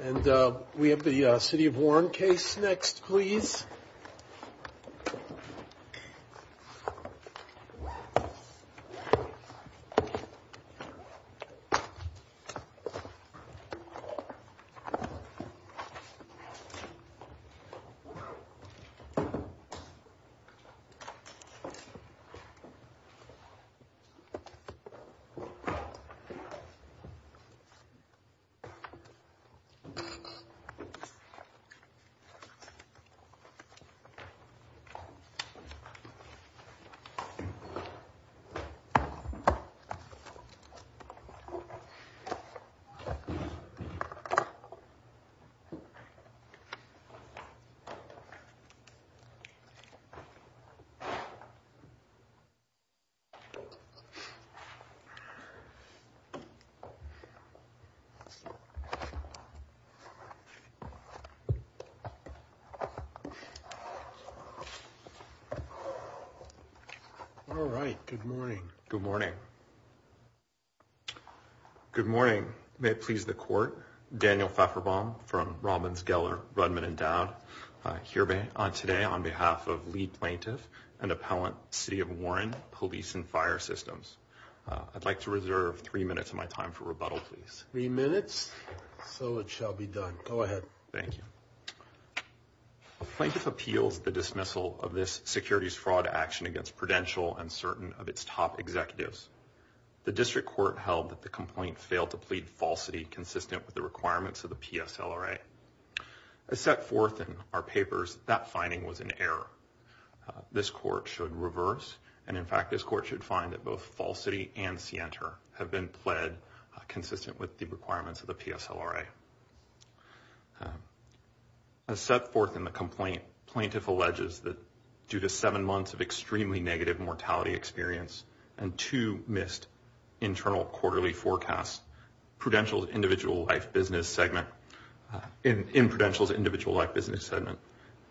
And we have the City of Warren case next please. All right. Good morning. Good morning. Good morning. May it please the court. Daniel Pfefferbaum from Robbins, Geller, Rudman and Dowd here today on behalf of lead plaintiff and appellant City of Warren Police and Fire Systems. I'd like to reserve three minutes of my time for three minutes so it shall be done. Go ahead. Thank you. A plaintiff appeals the dismissal of this securities fraud action against Prudential and certain of its top executives. The district court held that the complaint failed to plead falsity consistent with the requirements of the PSLRA. As set forth in our papers, that finding was an error. This court should reverse and in fact this court should find that both falsity and scienter have been pled consistent with the requirements of the PSLRA. As set forth in the complaint, plaintiff alleges that due to seven months of extremely negative mortality experience and two missed internal quarterly forecasts, Prudential's individual life business segment, in Prudential's individual life business segment,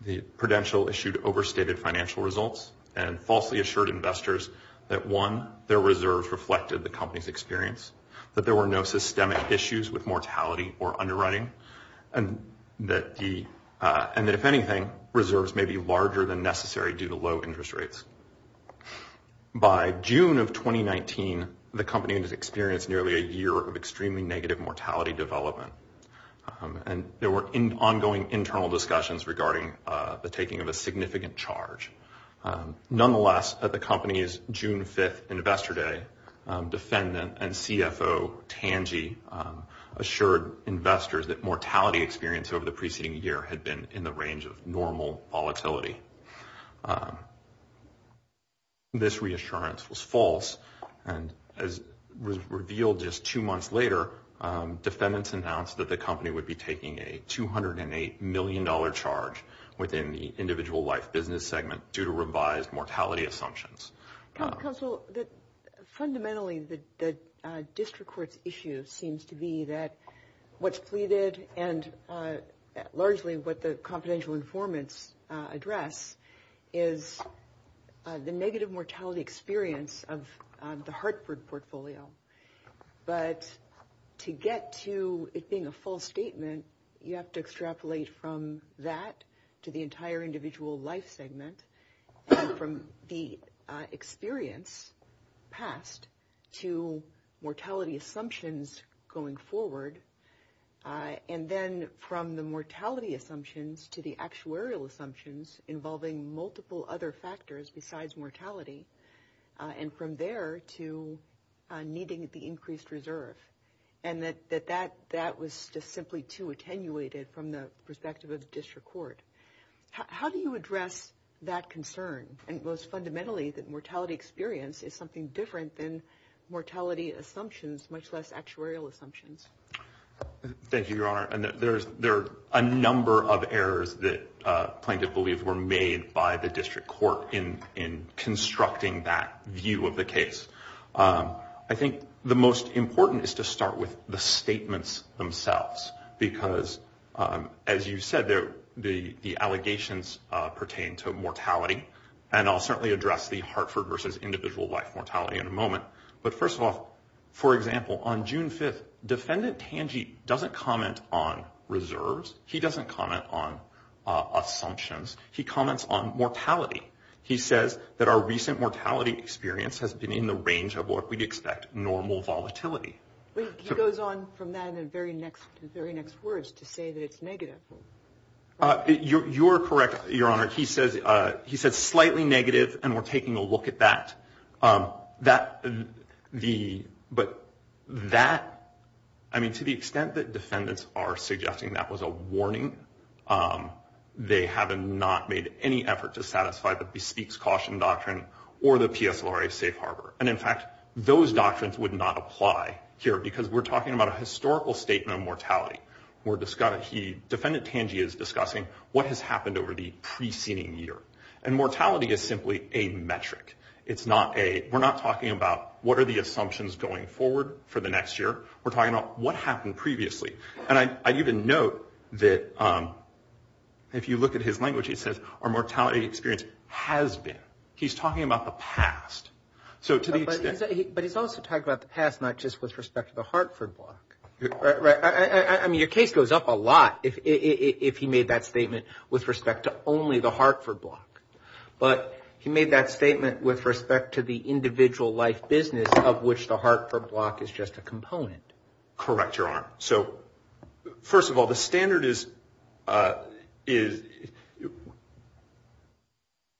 the Prudential issued overstated financial results and falsely assured investors that one, their reserves reflected the company's experience, that there were no systemic issues with mortality or underwriting and that if anything, reserves may be larger than necessary due to low interest rates. By June of 2019, the company has experienced nearly a year of extremely negative mortality development and there were ongoing internal discussions regarding the taking of a significant charge. Nonetheless, at the company's June 5th investor day, defendant and CFO Tangi assured investors that mortality experience over the preceding year had been in the range of normal volatility. This reassurance was false and as revealed just two months later, defendants announced that the company would be taking a $208 million charge within the individual life business segment due to revised mortality assumptions. Counsel, fundamentally the district court's issue seems to be that what's pleaded and largely what the confidential informants address is the negative mortality experience of the defendant. You have to extrapolate from that to the entire individual life segment from the experience past to mortality assumptions going forward and then from the mortality assumptions to the actuarial assumptions involving multiple other factors besides mortality and from there to needing the increased reserve and that that was just simply too attenuated from the perspective of the district court. How do you address that concern and most fundamentally that mortality experience is something different than mortality assumptions, much less actuarial assumptions? Thank you, Your Honor. There are a number of errors that plaintiff believes were made by the district court in constructing that view of the case. I think the most important is to start with the statements themselves because as you said, the allegations pertain to mortality and I'll certainly address the Hartford versus individual life mortality in a moment. But first of all, for example, on June 5th, defendant Tangi doesn't comment on reserves. He doesn't comment on assumptions. He comments on mortality. He says that our recent mortality experience has been in the range of what we'd expect, normal volatility. He goes on from that in the very next words to say that it's negative. You're correct, Your Honor. He says slightly negative and we're taking a look at that. But that, I mean to the extent that defendants are suggesting that was a warning, they have not made any effort to satisfy the bespeaks caution doctrine or the PSLRA safe harbor. And in fact, those doctrines would not apply here because we're talking about a historical statement of mortality. Defendant Tangi is discussing what has happened over the preceding year. And mortality is simply a metric. It's not a, we're not talking about what are the assumptions going forward for the next year. We're talking about what happened previously. And I'd even note that if you look at his language, he says our mortality experience has been. He's talking about the past. So to the extent. But he's also talking about the past, not just with respect to the Hartford block. Right, right. I mean your case goes up a lot if he made that statement with respect to only the Hartford block. But he made that statement with respect to the individual life business of which the Hartford block is just a component. Correct, Your Honor. So first of all, the standard is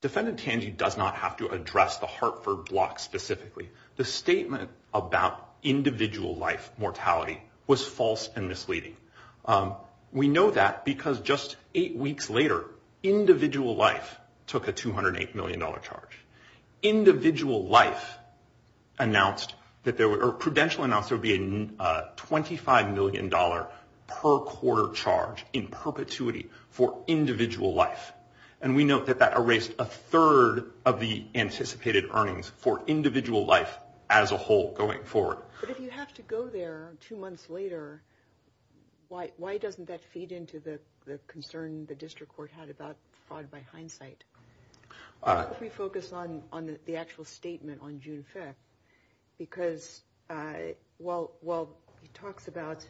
defendant Tangi does not have to address the Hartford block specifically. The statement about individual life mortality was false and misleading. We know that because just eight weeks later, individual life took a $208 million charge. Individual life announced that there were, or Prudential announced there would be a $25 million per quarter charge in perpetuity for individual life. And we note that that erased a third of the anticipated earnings for individual life as a whole going forward. But if you have to go there two months later, why doesn't that feed into the concern the district court had about fraud by hindsight? Why don't we focus on the actual statement on June 5th? Because while he talks about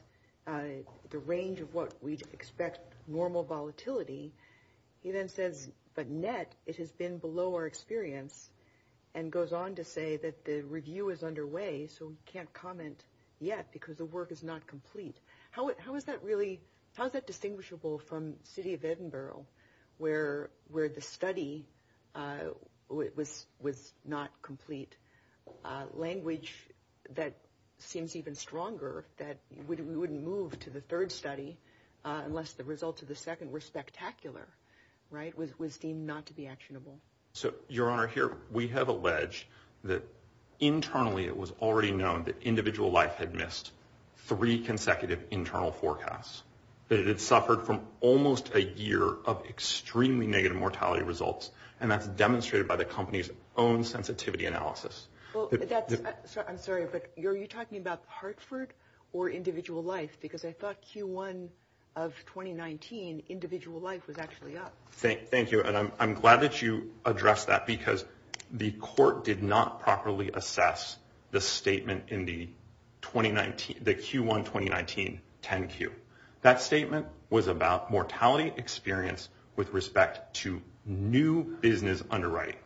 the range of what we'd expect normal volatility, he then says, but net, it has been below our expectations. And I can't comment yet because the work is not complete. How is that distinguishable from city of Edinburgh, where the study was not complete? Language that seems even stronger that we wouldn't move to the third study unless the results of the second were spectacular, was deemed not to be actionable. Your Honor, here we have alleged that internally it was already known that individual life had missed three consecutive internal forecasts. That it had suffered from almost a year of extremely negative mortality results. And that's demonstrated by the company's own sensitivity analysis. I'm sorry, but are you talking about Hartford or individual life? Because I thought Q1 of 2019, individual life was actually up. Thank you. And I'm glad that you addressed that because the court did not properly assess the statement in the Q1 2019 10Q. That statement was about mortality experience with respect to new business underwriting.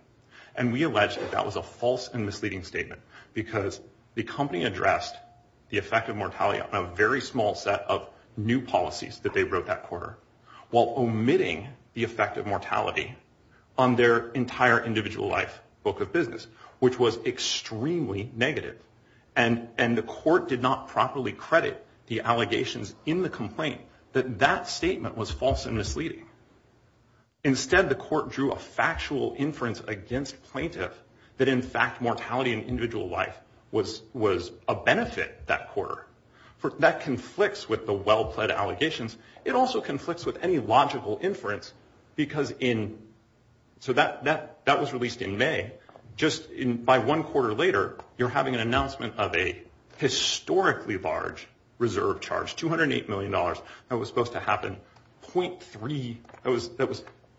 And we alleged that that was a false and misleading statement because the company addressed the effect of mortality on a very small set of new policies that they wrote that quarter, while omitting the effect of mortality on their entire individual life book of business, which was extremely negative. And the court did not properly credit the allegations in the complaint that that statement was false and misleading. Instead, the court drew a factual inference against plaintiff that in fact mortality in individual life was a benefit that quarter. That conflicts with the well-plaid allegations. It also conflicts with any logical inference. So that was released in May. Just by one quarter later, you're having an announcement of a historically large reserve charge, $208 million that was supposed to happen. That was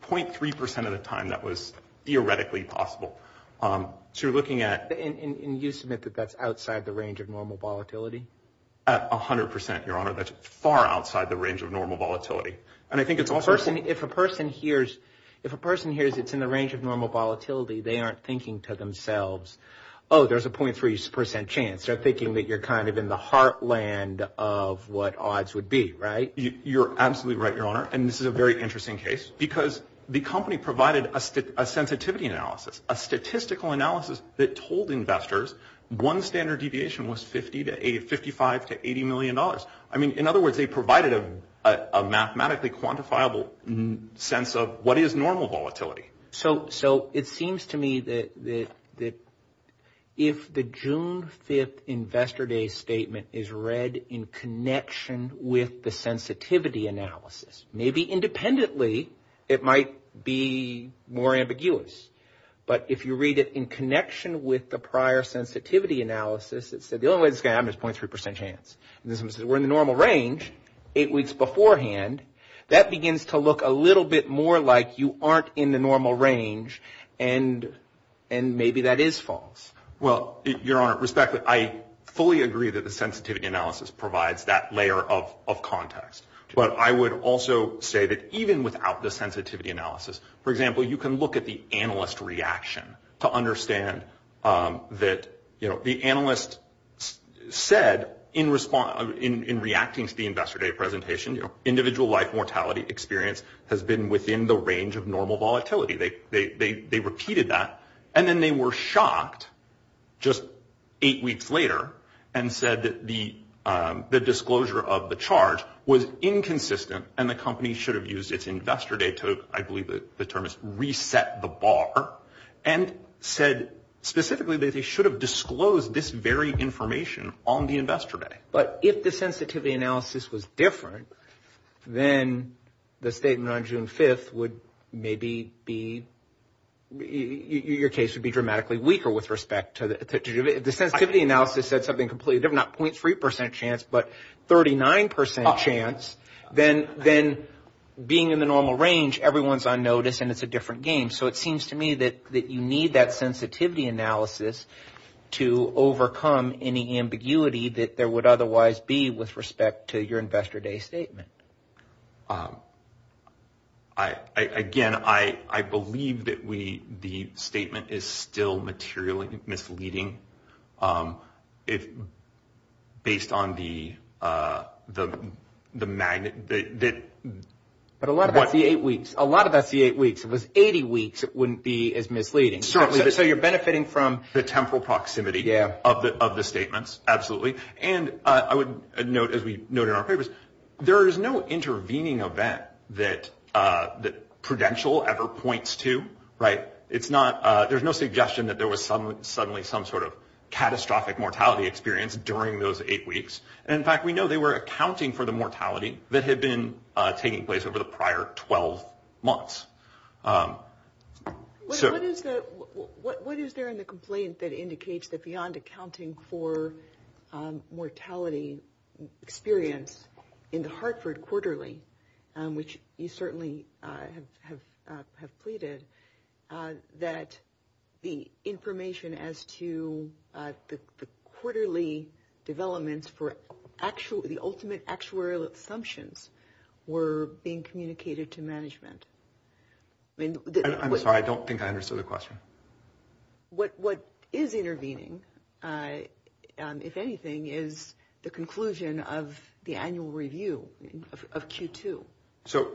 0.3% of the time that was theoretically possible. So you're looking at- And you submit that that's outside the range of normal volatility? 100%, Your Honor. That's far outside the range of normal volatility. And I think it's also- If a person hears it's in the range of normal volatility, they aren't thinking to themselves, oh, there's a 0.3% chance. They're thinking that you're kind of in the heartland of what odds would be, right? You're absolutely right, Your Honor. And this is a very interesting case because the company provided a sensitivity analysis, a statistical analysis that told investors one standard deviation was $55 to $80 million. I mean, in other words, they provided a mathematically quantifiable sense of what is normal volatility. So it seems to me that if the June 5th Investor Day statement is read in connection with the sensitivity analysis, maybe independently, it might be more ambiguous. But if you read it in connection with the prior sensitivity analysis, it said the only way this is going to happen is 0.3% chance. And this one says we're in the normal range eight weeks beforehand. That begins to look a little bit more like you aren't in the normal range, and maybe that is false. Well, Your Honor, respectfully, I fully agree that the sensitivity analysis provides that layer of context. But I would also say that even without the sensitivity analysis, for example, I understand that the analyst said in reacting to the Investor Day presentation, individual life mortality experience has been within the range of normal volatility. They repeated that. And then they were shocked just eight weeks later and said that the disclosure of the charge was inconsistent and the company should have used its Investor Day to, I believe said specifically that they should have disclosed this very information on the Investor Day. But if the sensitivity analysis was different, then the statement on June 5th would maybe be, your case would be dramatically weaker with respect to, the sensitivity analysis said something completely different, not 0.3% chance, but 39% chance, then being in the normal range, everyone's on notice and it's a different game. So it seems to me that you need that sensitivity analysis to overcome any ambiguity that there would otherwise be with respect to your Investor Day statement. Again, I believe that the statement is still materially misleading based on the magnet that... But a lot of that's the eight weeks. A lot of that's the eight weeks. If it was 80 weeks, it wouldn't be as misleading. Certainly. So you're benefiting from... The temporal proximity of the statements. Absolutely. And I would note, as we noted in our papers, there is no intervening event that Prudential ever points to. There's no suggestion that there was suddenly some sort of catastrophic mortality experience during those eight weeks. And in fact, we know they were accounting for the mortality that had been taking place over the prior 12 months. What is there in the complaint that indicates that beyond accounting for mortality experience in the Hartford quarterly, which you certainly have pleaded, that the information as to the ultimate actuarial assumptions were being communicated to management? I'm sorry. I don't think I understood the question. What is intervening, if anything, is the conclusion of the annual review of Q2. So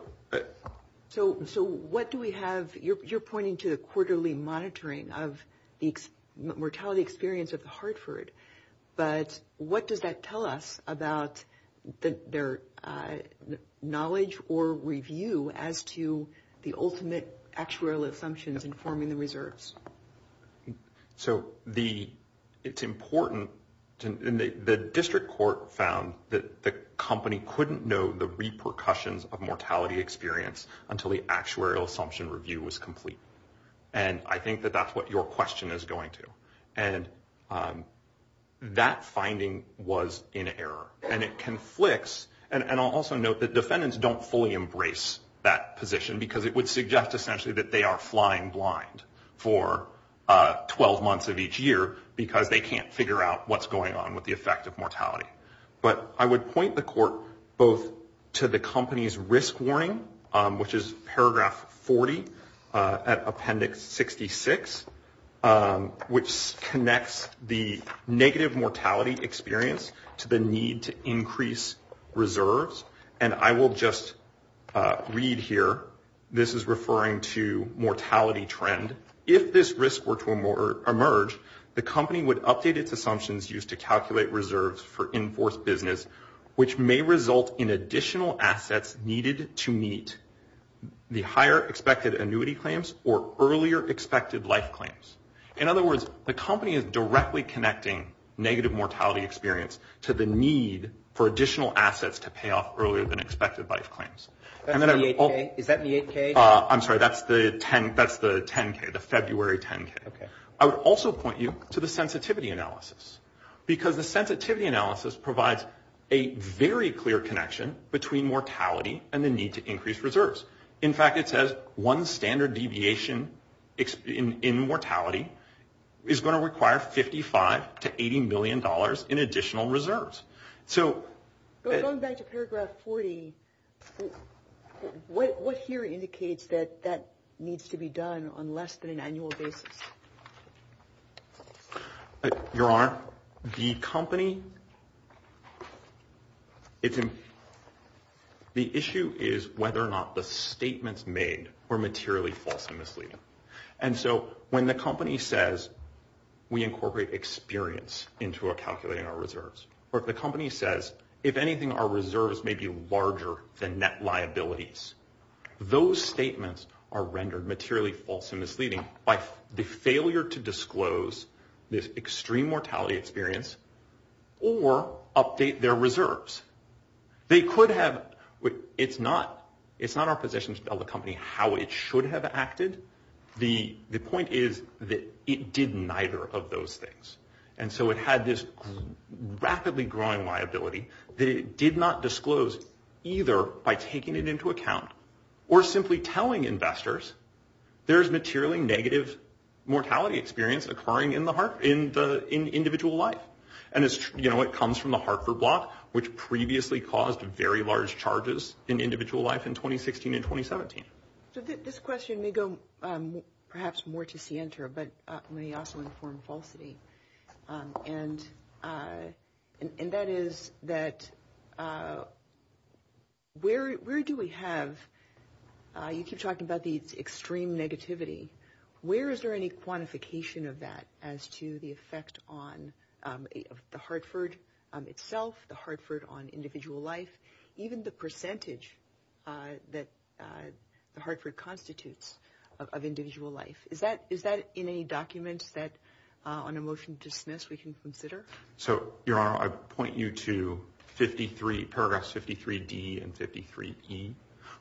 what do we have... You're pointing to the quarterly monitoring of the mortality experience of Hartford, but what does that tell us about their knowledge or review as to the ultimate actuarial assumptions informing the reserves? So it's important... The district court found that the company couldn't know the repercussions of mortality experience until the actuarial assumption review was complete. And I think that that's what your question is going to. And that finding was in error. And it conflicts... And I'll also note that defendants don't fully embrace that position because it would suggest essentially that they are flying blind for 12 months of each year because they can't figure out what's going on with the effect of mortality. But I would point the court both to the company's risk warning, which is paragraph 40 at Appendix 66, which connects the negative mortality experience to the need to increase reserves. And I will just read here. This is referring to mortality trend. If this risk were to emerge, the company would update its assumptions used to calculate reserves for enforced business, which may result in additional assets needed to meet the higher expected annuity claims or earlier expected life claims. In other words, the company is directly connecting negative mortality experience to the need for additional assets to pay off earlier than expected life claims. Is that the 8K? I'm sorry. That's the 10K, the February 10K. I would also point you to the sensitivity analysis because the sensitivity analysis provides a very clear connection between mortality and the need to increase reserves. In fact, it says one standard deviation in mortality is going to require $55 to $80 million in additional reserves. So going back to paragraph 40, what here indicates that that needs to be done on less than an annual basis? The issue is whether or not the statements made were materially false and misleading. And so when the company says, we incorporate experience into calculating our reserves, or if the company says, if anything, our reserves may be larger than net liabilities, those statements are rendered materially false and misleading by the failure to disclose this liability. It's not our position to tell the company how it should have acted. The point is that it did neither of those things. And so it had this rapidly growing liability that it did not disclose either by taking it into account or simply telling investors there's materially negative mortality experience occurring in the individual life. And it's, you know, it comes from the Hartford block, which previously caused very large charges in individual life in 2016 and 2017. So this question may go perhaps more to Sientra, but may also inform falsity. And that is that where do we have, you keep talking about the extreme negativity, where is there any quantification of that as to the effect on the Hartford itself, the Hartford on individual life, even the percentage that the Hartford constitutes of individual life? Is that in any documents that on a motion to dismiss we can consider? So Your Honor, I point you to paragraph 53D and 53E,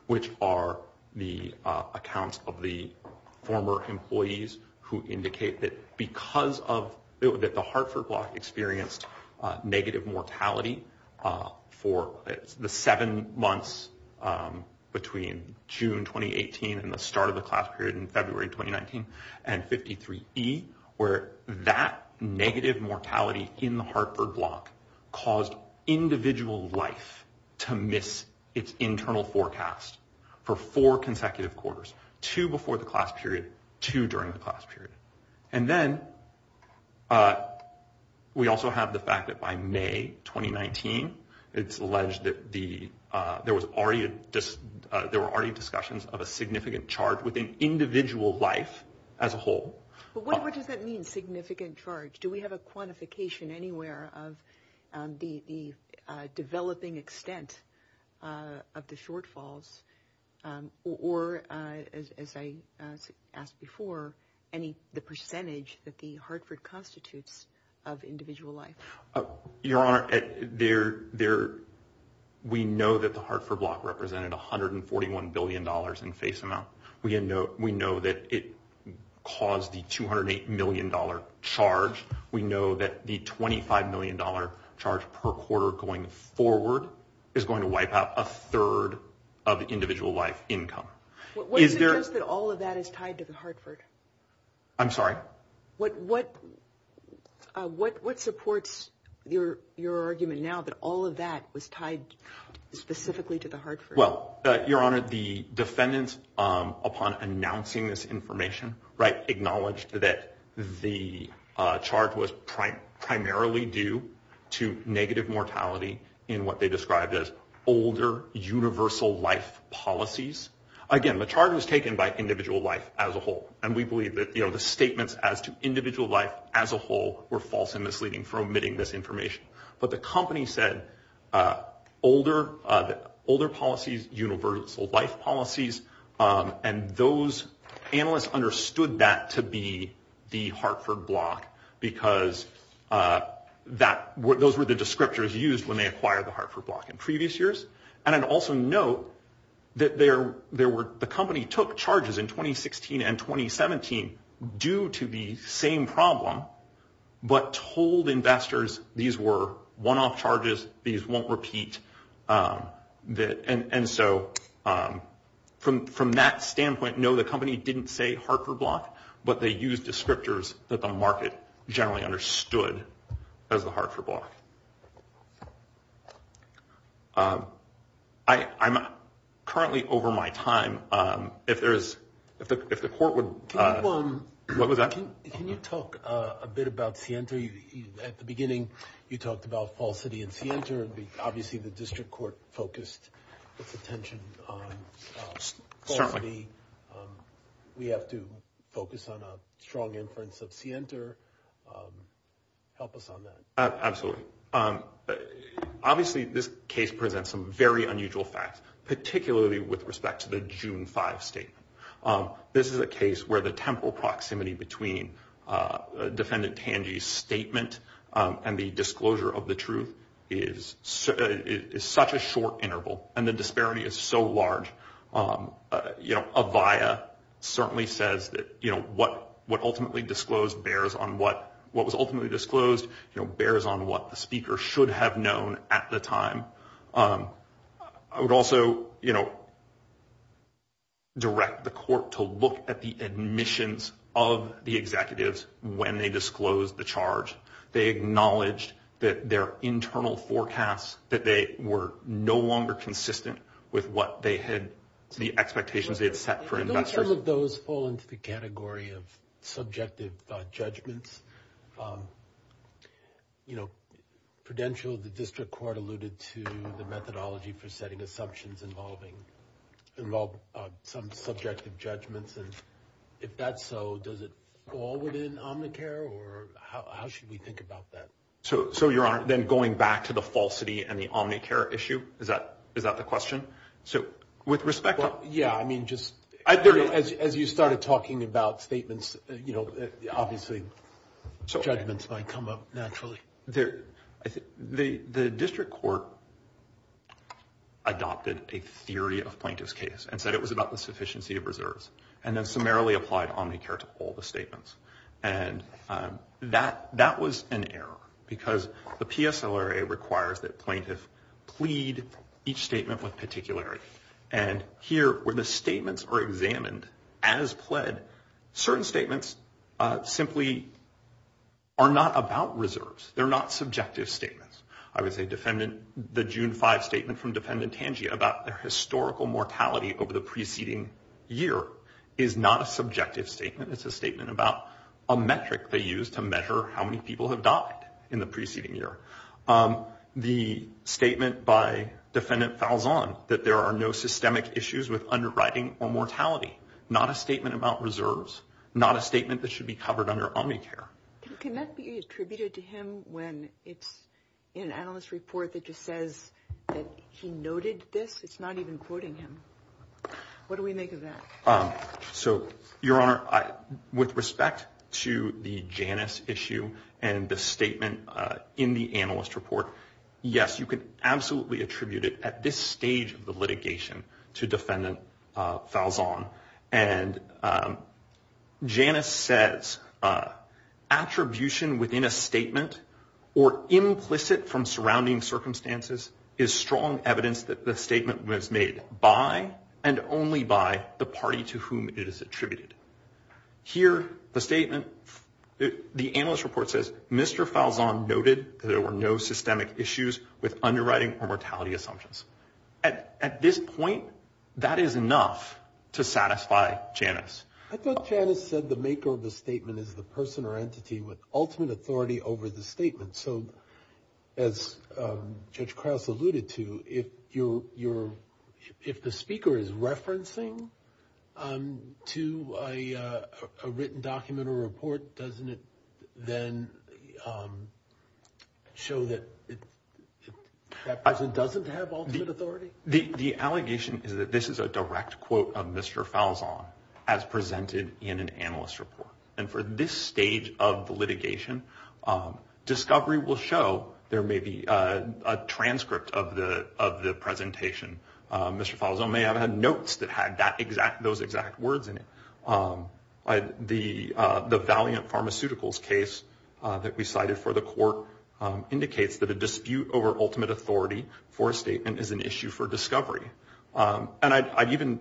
which are the accounts of the former employees who indicate that because of, that the Hartford block experienced negative mortality for the seven months between June 2018 and the start of the class period in February 2019, and 53E, where that negative mortality in the Hartford block caused individual life to miss its internal forecast for four consecutive quarters, two before the class period, two during the class period. And then we also have the fact that by May 2019, it's alleged that the, there was already a, there were already discussions of a significant charge within individual life as a whole. But what does that mean, significant charge? Do we have a quantification anywhere of the developing extent of the shortfalls, or as I asked before, any, the percentage that the Hartford constitutes of individual life? Your Honor, there, we know that the Hartford block represented $141 billion in face amount. We know that it caused the $208 million charge. We know that the $25 million charge per quarter going forward is going to wipe out a third of the individual life income. What does it suggest that all of that is tied to the Hartford? I'm sorry? What, what, what, what supports your, your argument now that all of that was tied specifically to the Hartford? Well, Your Honor, the defendants upon announcing this information, right, acknowledged that the charge was primarily due to negative mortality in what they described as older universal life policies. Again, the charge was taken by individual life as a whole, and we believe that, you know, the statements as to individual life as a whole were false and misleading for omitting this information. But the company said older, older policies, universal life policies, and those analysts understood that to be the Hartford block because that, those were the descriptors used when they acquired the Hartford block in previous years. And I'd also note that there, there were, the company took charges in 2016 and 2017 due to the same problem, but told investors these were one-off charges, these won't repeat that, and, and so from, from that standpoint, no, the company didn't say Hartford block, but they used descriptors that the market generally understood as the Hartford block. I, I'm currently over my time. If there is, if the, if the court would, what was that? Can you talk a bit about Sienta? At the beginning, you talked about Fall City and Sienta, and we, obviously the district court focused its attention on Fall City. Certainly. We have to focus on a strong inference of Sienta. Help us on that. Absolutely. Obviously, this case presents some very unusual facts, particularly with respect to the June 5 statement. This is a case where the temporal proximity between Defendant Tangi's statement and the disclosure of the truth is, is such a short interval, and the disparity is so large. You know, Avaya certainly says that, you know, what, what ultimately disclosed bears on what, what was ultimately disclosed, you know, bears on what the speaker should have known at the time. I would also, you know, direct the court to look at the admissions of the executives when they disclosed the charge. They acknowledged that their internal forecasts, that they were no longer consistent with what they had, the expectations they had set for investors. Do those terms of those fall into the category of subjective judgments? You know, Prudential, the district court alluded to the methodology for setting assumptions involving, involve some subjective judgments, and if that's so, does it fall within Omnicare, or how, how should we think about that? So, so Your Honor, then going back to the falsity and the Omnicare issue, is that, is that the question? So with respect to... Well, yeah, I mean, just as you started talking about statements, you know, obviously judgments might come up naturally. There, I think the, the district court adopted a theory of plaintiff's case and said it was about the sufficiency of reserves, and then summarily applied Omnicare to all the statements. And that, that was an error, because the PSLRA requires that plaintiff plead each statement with particularity. And here, where the statements are examined as pled, certain statements simply are not about reserves. They're not subjective statements. I would say defendant, the June 5 statement from defendant Tangier about their historical mortality over the preceding year is not a subjective statement. It's a statement about a metric they used to measure how many people have died in the preceding year. The statement by defendant Falzon that there are no systemic issues with underwriting or mortality, not a statement about reserves, not a statement that should be covered under Omnicare. Can that be attributed to him when it's an analyst report that just says that he noted this? It's not even quoting him. What do we make of that? So, Your Honor, with respect to the Janus issue and the statement in the analyst report, yes, you can absolutely attribute it at this stage of the litigation to defendant Falzon. And Janus says, attribution within a statement or implicit from surrounding circumstances is strong evidence that the statement was made by and only by the party to whom it is attributed. Here, the statement, the analyst report says, Mr. Falzon noted that there were no systemic issues with underwriting or mortality assumptions. At this point, that is enough to satisfy Janus. I thought Janus said the maker of the statement is the person or entity with ultimate authority over the statement. So, as Judge Krause alluded to, if the speaker is referencing to a written document or report, doesn't it then show up as a reference to that person who doesn't have ultimate authority? The allegation is that this is a direct quote of Mr. Falzon as presented in an analyst report. And for this stage of the litigation, discovery will show there may be a transcript of the presentation. Mr. Falzon may have had notes that had those exact words in it. The Valiant Pharmaceuticals case that we cited for the dispute over ultimate authority for a statement is an issue for discovery. And I'd even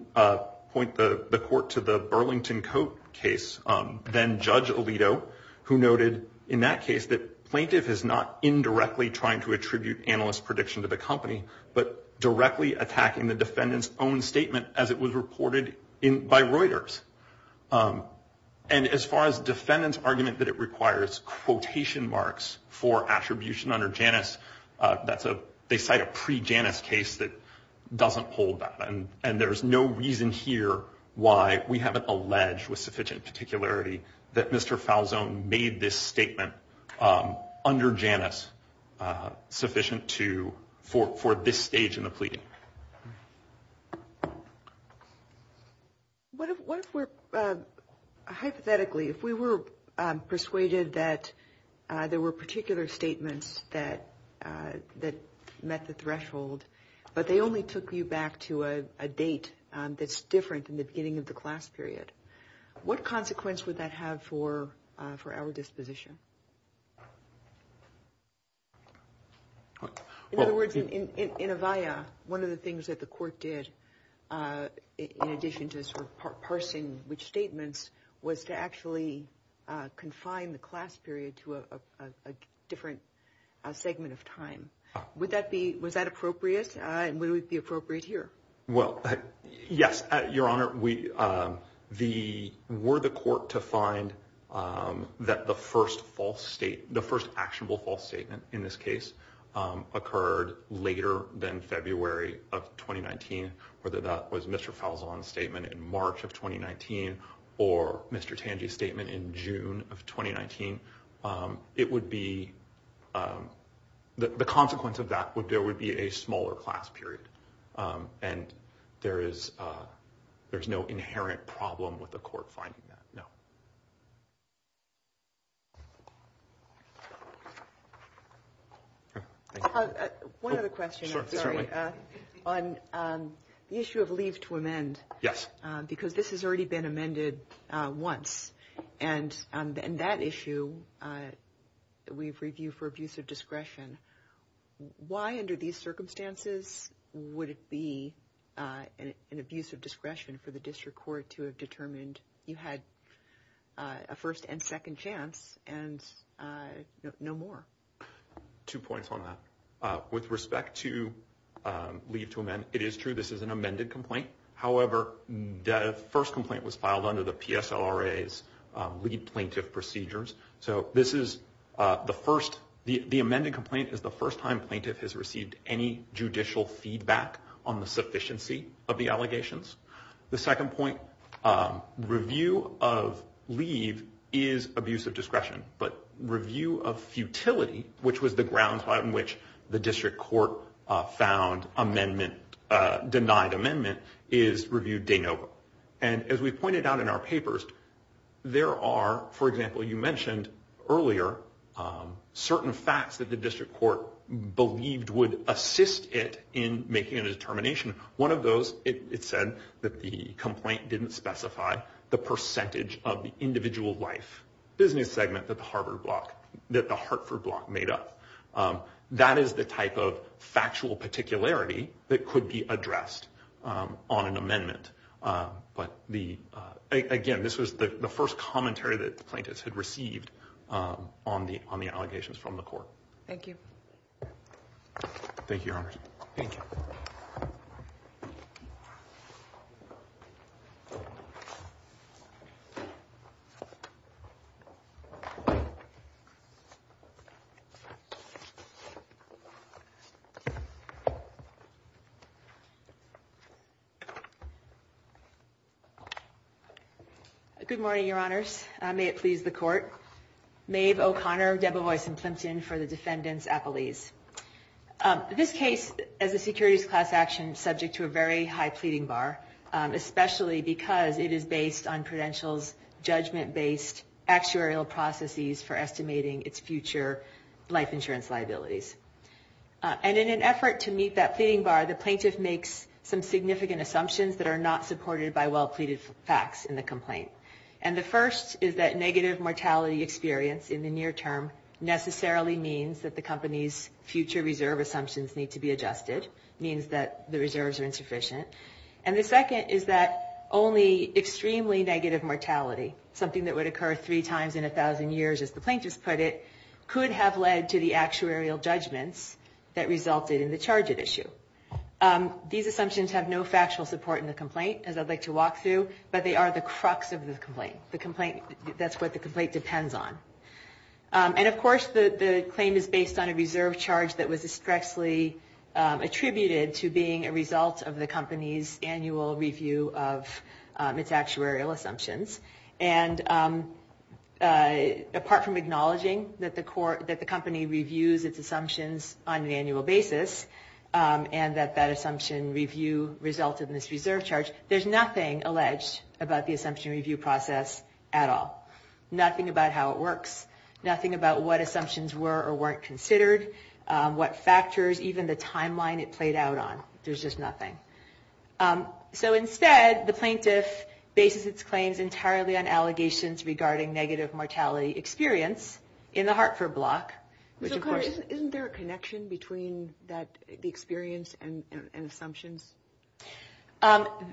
point the court to the Burlington Coat case, then Judge Alito, who noted in that case that plaintiff is not indirectly trying to attribute analyst prediction to the company, but directly attacking the defendant's own statement as it was reported by Reuters. And as far as defendant's argument that it requires quotation marks for attribution under Janus, they cite a pre-Janus case that doesn't hold that. And there's no reason here why we haven't alleged with sufficient particularity that Mr. Falzon made this statement under Janus sufficient for this stage in the pleading. What if we're, hypothetically, if we were persuaded that there were particular statements that met the threshold, but they only took you back to a date that's different in the beginning of the class period, what consequence would that have for our disposition? In other words, one of the things that the court did, in addition to parsing which statements, was to actually confine the class period to a different segment of time. Would that be, was that appropriate? And would it be appropriate here? Well, yes, Your Honor. Were the court to find that the first actionable false statement in this case occurred later than February of 2019, whether that was Mr. Falzon's statement in March of 2019 or Mr. Tangi's statement in June of 2019, it would be, the consequence of that would be a smaller class period. And there is no inherent problem with the court finding that, no. One other question, I'm sorry, on the issue of leave to amend. Yes. Because this has already been amended once. And on that issue, we've reviewed for abuse of discretion. Why under these circumstances would it be an abuse of discretion for the plaintiff if you had a first and second chance and no more? Two points on that. With respect to leave to amend, it is true this is an amended complaint. However, the first complaint was filed under the PSLRA's lead plaintiff procedures. So this is the first, the amended complaint is the first time plaintiff has received any review of leave is abuse of discretion. But review of futility, which was the grounds on which the district court found amendment, denied amendment, is reviewed de novo. And as we pointed out in our papers, there are, for example, you mentioned earlier, certain facts that the district court believed would assist it in making a determination. One of individual life business segment that the Hartford block made up. That is the type of factual particularity that could be addressed on an amendment. But again, this was the first commentary that the plaintiffs had received on the allegations from the court. Thank you. Thank you, Your Honors. Thank you. Good morning, Your Honors. May it please the court. Maeve O'Connor, Debevoise and Plimpton for the defendants' appellees. This case, as a securities class action, is subject to a very high pleading bar, especially because it is based on Prudential's judgment-based actuarial processes for estimating its future life insurance liabilities. And in an effort to meet that pleading bar, the plaintiff makes some significant assumptions that are not supported by well-pleaded facts in the complaint. And the first is that negative mortality experience in the near term necessarily means that the company's future reserve assumptions need to be adjusted, means that the reserves are only extremely negative mortality, something that would occur three times in a thousand years, as the plaintiffs put it, could have led to the actuarial judgments that resulted in the charge at issue. These assumptions have no factual support in the complaint, as I'd like to walk through, but they are the crux of the complaint. That's what the complaint depends on. And of course, the claim is based on a reserve charge that was expressly attributed to being a result of the company's annual review of its actuarial assumptions. And apart from acknowledging that the company reviews its assumptions on an annual basis, and that that assumption review resulted in this reserve charge, there's nothing alleged about the assumption review process at all. Nothing about how it works. Nothing about what assumptions were or weren't So instead, the plaintiff bases its claims entirely on allegations regarding negative mortality experience in the Hartford block. Isn't there a connection between the experience and assumptions?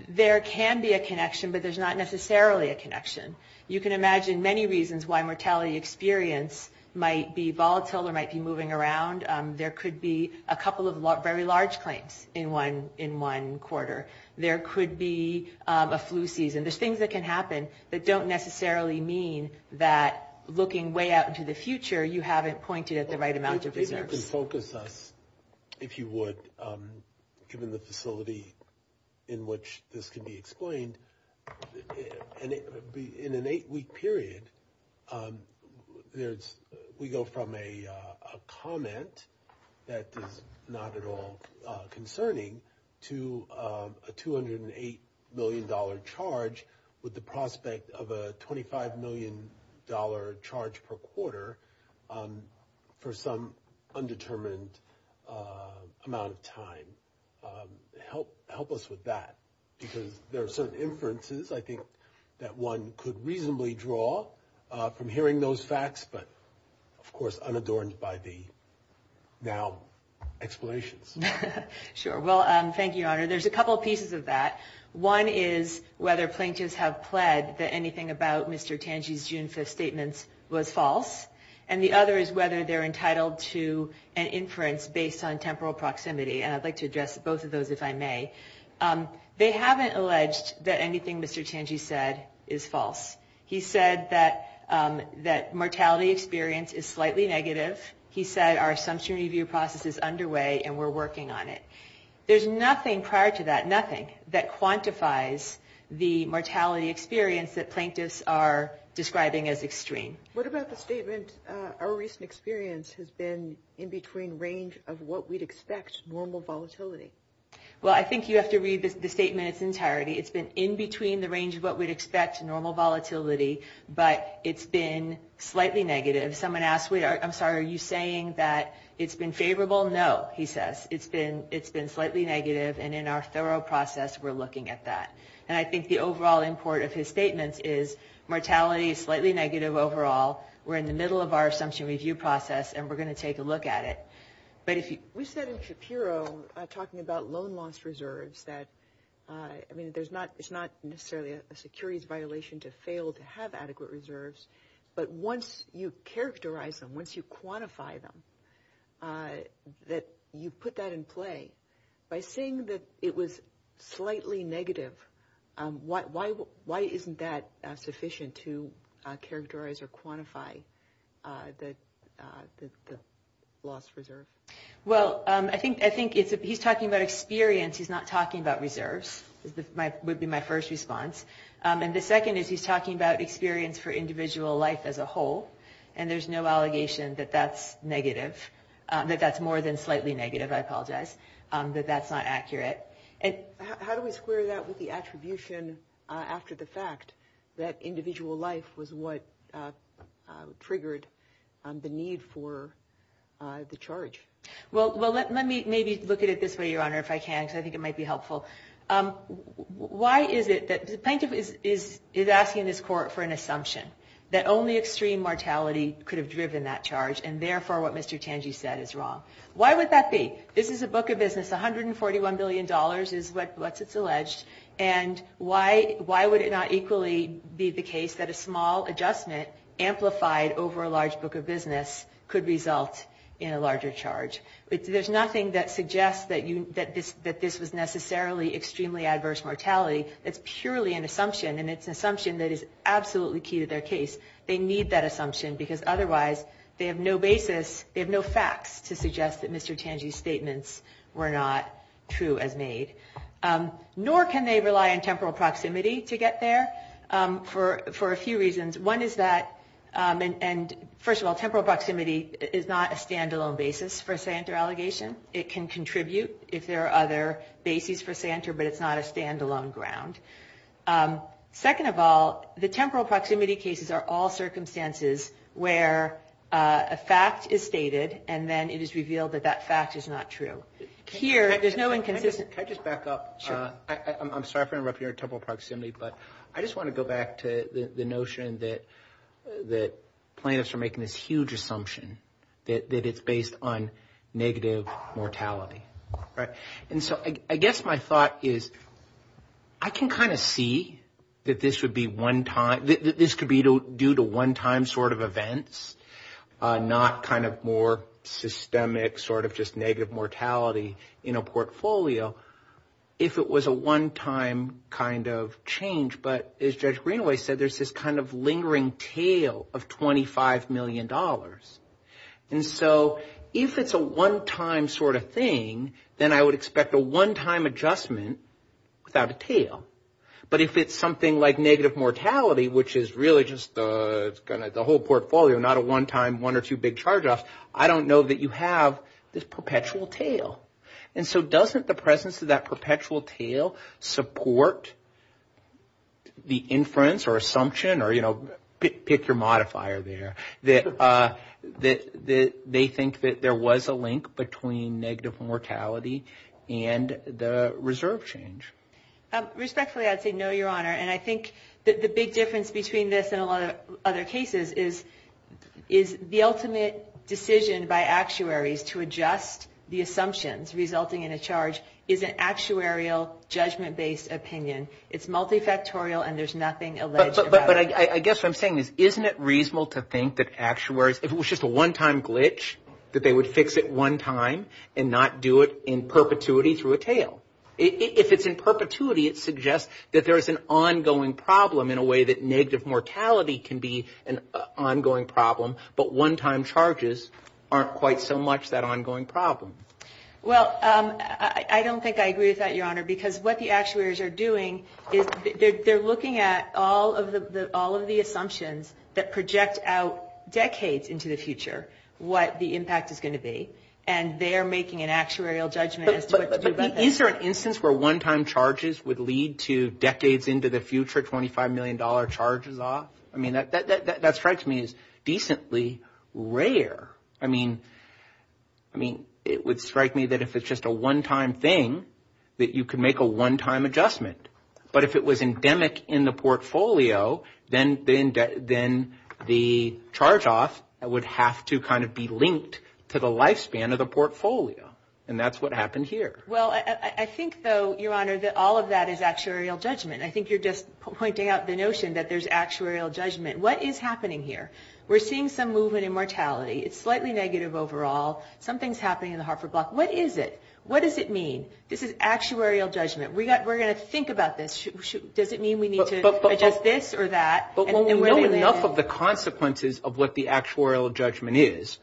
There can be a connection, but there's not necessarily a connection. You can imagine many reasons why mortality experience might be volatile or might be moving around. There could be a couple of very large claims in one quarter. There could be a flu season. There's things that can happen that don't necessarily mean that looking way out into the future, you haven't pointed at the right amount of reserves. If you can focus us, if you would, given the facility in which this can be explained, in an eight-week period, we go from a comment that is not at all concerning to a $208 million charge with the prospect of a $25 million charge per quarter for some undetermined amount of time. Help us with that, because there are certain inferences, I think, that one could reasonably draw from hearing those facts, but of course unadorned by the now explanations. Sure. Well, thank you, Your Honor. There's a couple of pieces of that. One is whether plaintiffs have pled that anything about Mr. Tangier's June 5th statements was false. And the other is whether they're entitled to an inference based on temporal proximity. And I'd like to address both of those, if I may. They haven't alleged that anything Mr. Tangier said is false. He said that mortality experience is slightly negative. He said our assumption review process is underway and we're working on it. There's nothing prior to that, nothing, that quantifies the mortality experience that plaintiffs are describing as extreme. What about the statement, our recent experience has been in between range of what we'd expect, normal volatility. Well, I think you have to read the statement in its entirety. It's been in between the range of what we'd expect, normal volatility, but it's been slightly negative. Someone asked, I'm sorry, are you saying that it's been favorable? No, he says. It's been slightly negative and in our thorough process we're looking at that. And I think the overall import of his statements is mortality is slightly negative overall. We're in the middle of our assumption review process and we're going to take a look at it. We said in Shapiro, talking about loan loss reserves, that it's not necessarily a securities violation to fail to have adequate reserves, but once you characterize them, once you quantify them, that you put that in play. By saying that it was slightly negative, why isn't that sufficient to characterize or quantify the loss reserve? Well, I think he's talking about experience, he's not talking about reserves, would be my first response. And the second is he's talking about experience for individual life as a whole and there's no allegation that that's negative, that that's more than slightly negative, I apologize, that that's not accurate. How do we square that with the attribution after the fact that individual life was what triggered the need for the charge? Well, let me maybe look at it this way, Your Honor, if I can, because I think it might be helpful. Why is it that the plaintiff is asking this court for an assumption that only extreme mortality could have driven that charge, and therefore what Mr. Tanji said is wrong? Why would that be? This is a book of business, $141 billion is what's alleged, and why would it not equally be the case that a small adjustment amplified over a large book of business could result in a larger charge? There's nothing that suggests that this was necessarily extremely adverse mortality, it's purely an assumption, and it's an assumption that is absolutely key to their case. They need that assumption because otherwise, they have no basis, they have no facts to suggest that Mr. Tanji's statements were not true as made. Nor can they rely on temporal proximity to get there for a few reasons. One is that, and first of all, temporal proximity is not a stand-alone basis for a say-enter allegation. It can contribute if there are other bases for say-enter, but it's not a stand-alone ground. Second of all, the temporal proximity cases are all circumstances where a fact is stated, and then it is revealed that that fact is not true. Here, there's no inconsistency. Can I just back up? I'm sorry for interrupting your temporal proximity, but I just want to go back to the notion that plaintiffs are making this huge assumption that it's based on negative mortality. And so I guess my thought is, I can kind of see that this could be due to one-time sort of events, not kind of more systemic sort of just negative mortality in a portfolio, if it was a one-time kind of change. But as Judge Greenaway said, there's this kind of lingering tale of $25 million. And so if it's a one-time sort of thing, then I would expect a one-time adjustment without a tale. But if it's something like negative mortality, which is really just the whole portfolio, not a one-time one or two big charge-offs, I don't know that you have this perpetual tale. And so doesn't the presence of that perpetual tale support the inference or assumption, or pick your modifier there, that they think that there was a link between negative mortality and the reserve change? Respectfully, I'd say no, Your Honor. And I think that the big difference between this and a lot of other cases is the ultimate decision by actuaries to adjust the assumptions resulting in a charge is an actuarial, judgment-based opinion. It's multifactorial, and there's nothing alleged about it. But I guess what I'm saying is, isn't it reasonable to think that actuaries, if it was just a one-time glitch, that they would fix it one time and not do it in perpetuity through a tale? If it's in perpetuity, it suggests that there is an ongoing problem in a way that negative mortality can be an ongoing problem, but one-time charges aren't quite so much that ongoing problem. Well, I don't think I agree with that, Your Honor, because what the actuaries are doing is they're looking at all of the assumptions that project out decades into the future what the impact is going to be, and they're making an actuarial judgment as to what to do about that. But is there an instance where one-time charges would lead to decades into the future $25 million charges off? I mean, that strikes me as decently rare. I mean, it would strike me that if it's just a one-time thing, that you could make a one-time adjustment. But if it was endemic in the portfolio, then the charge-off would have to kind of be linked to the lifespan of the portfolio, and that's what happened here. Well, I think, though, Your Honor, that all of that is actuarial judgment. I think you're just pointing out the notion that there's actuarial judgment. What is happening here? We're seeing some movement in mortality. It's slightly negative overall. Something's happening in the Hartford block. I think it's at that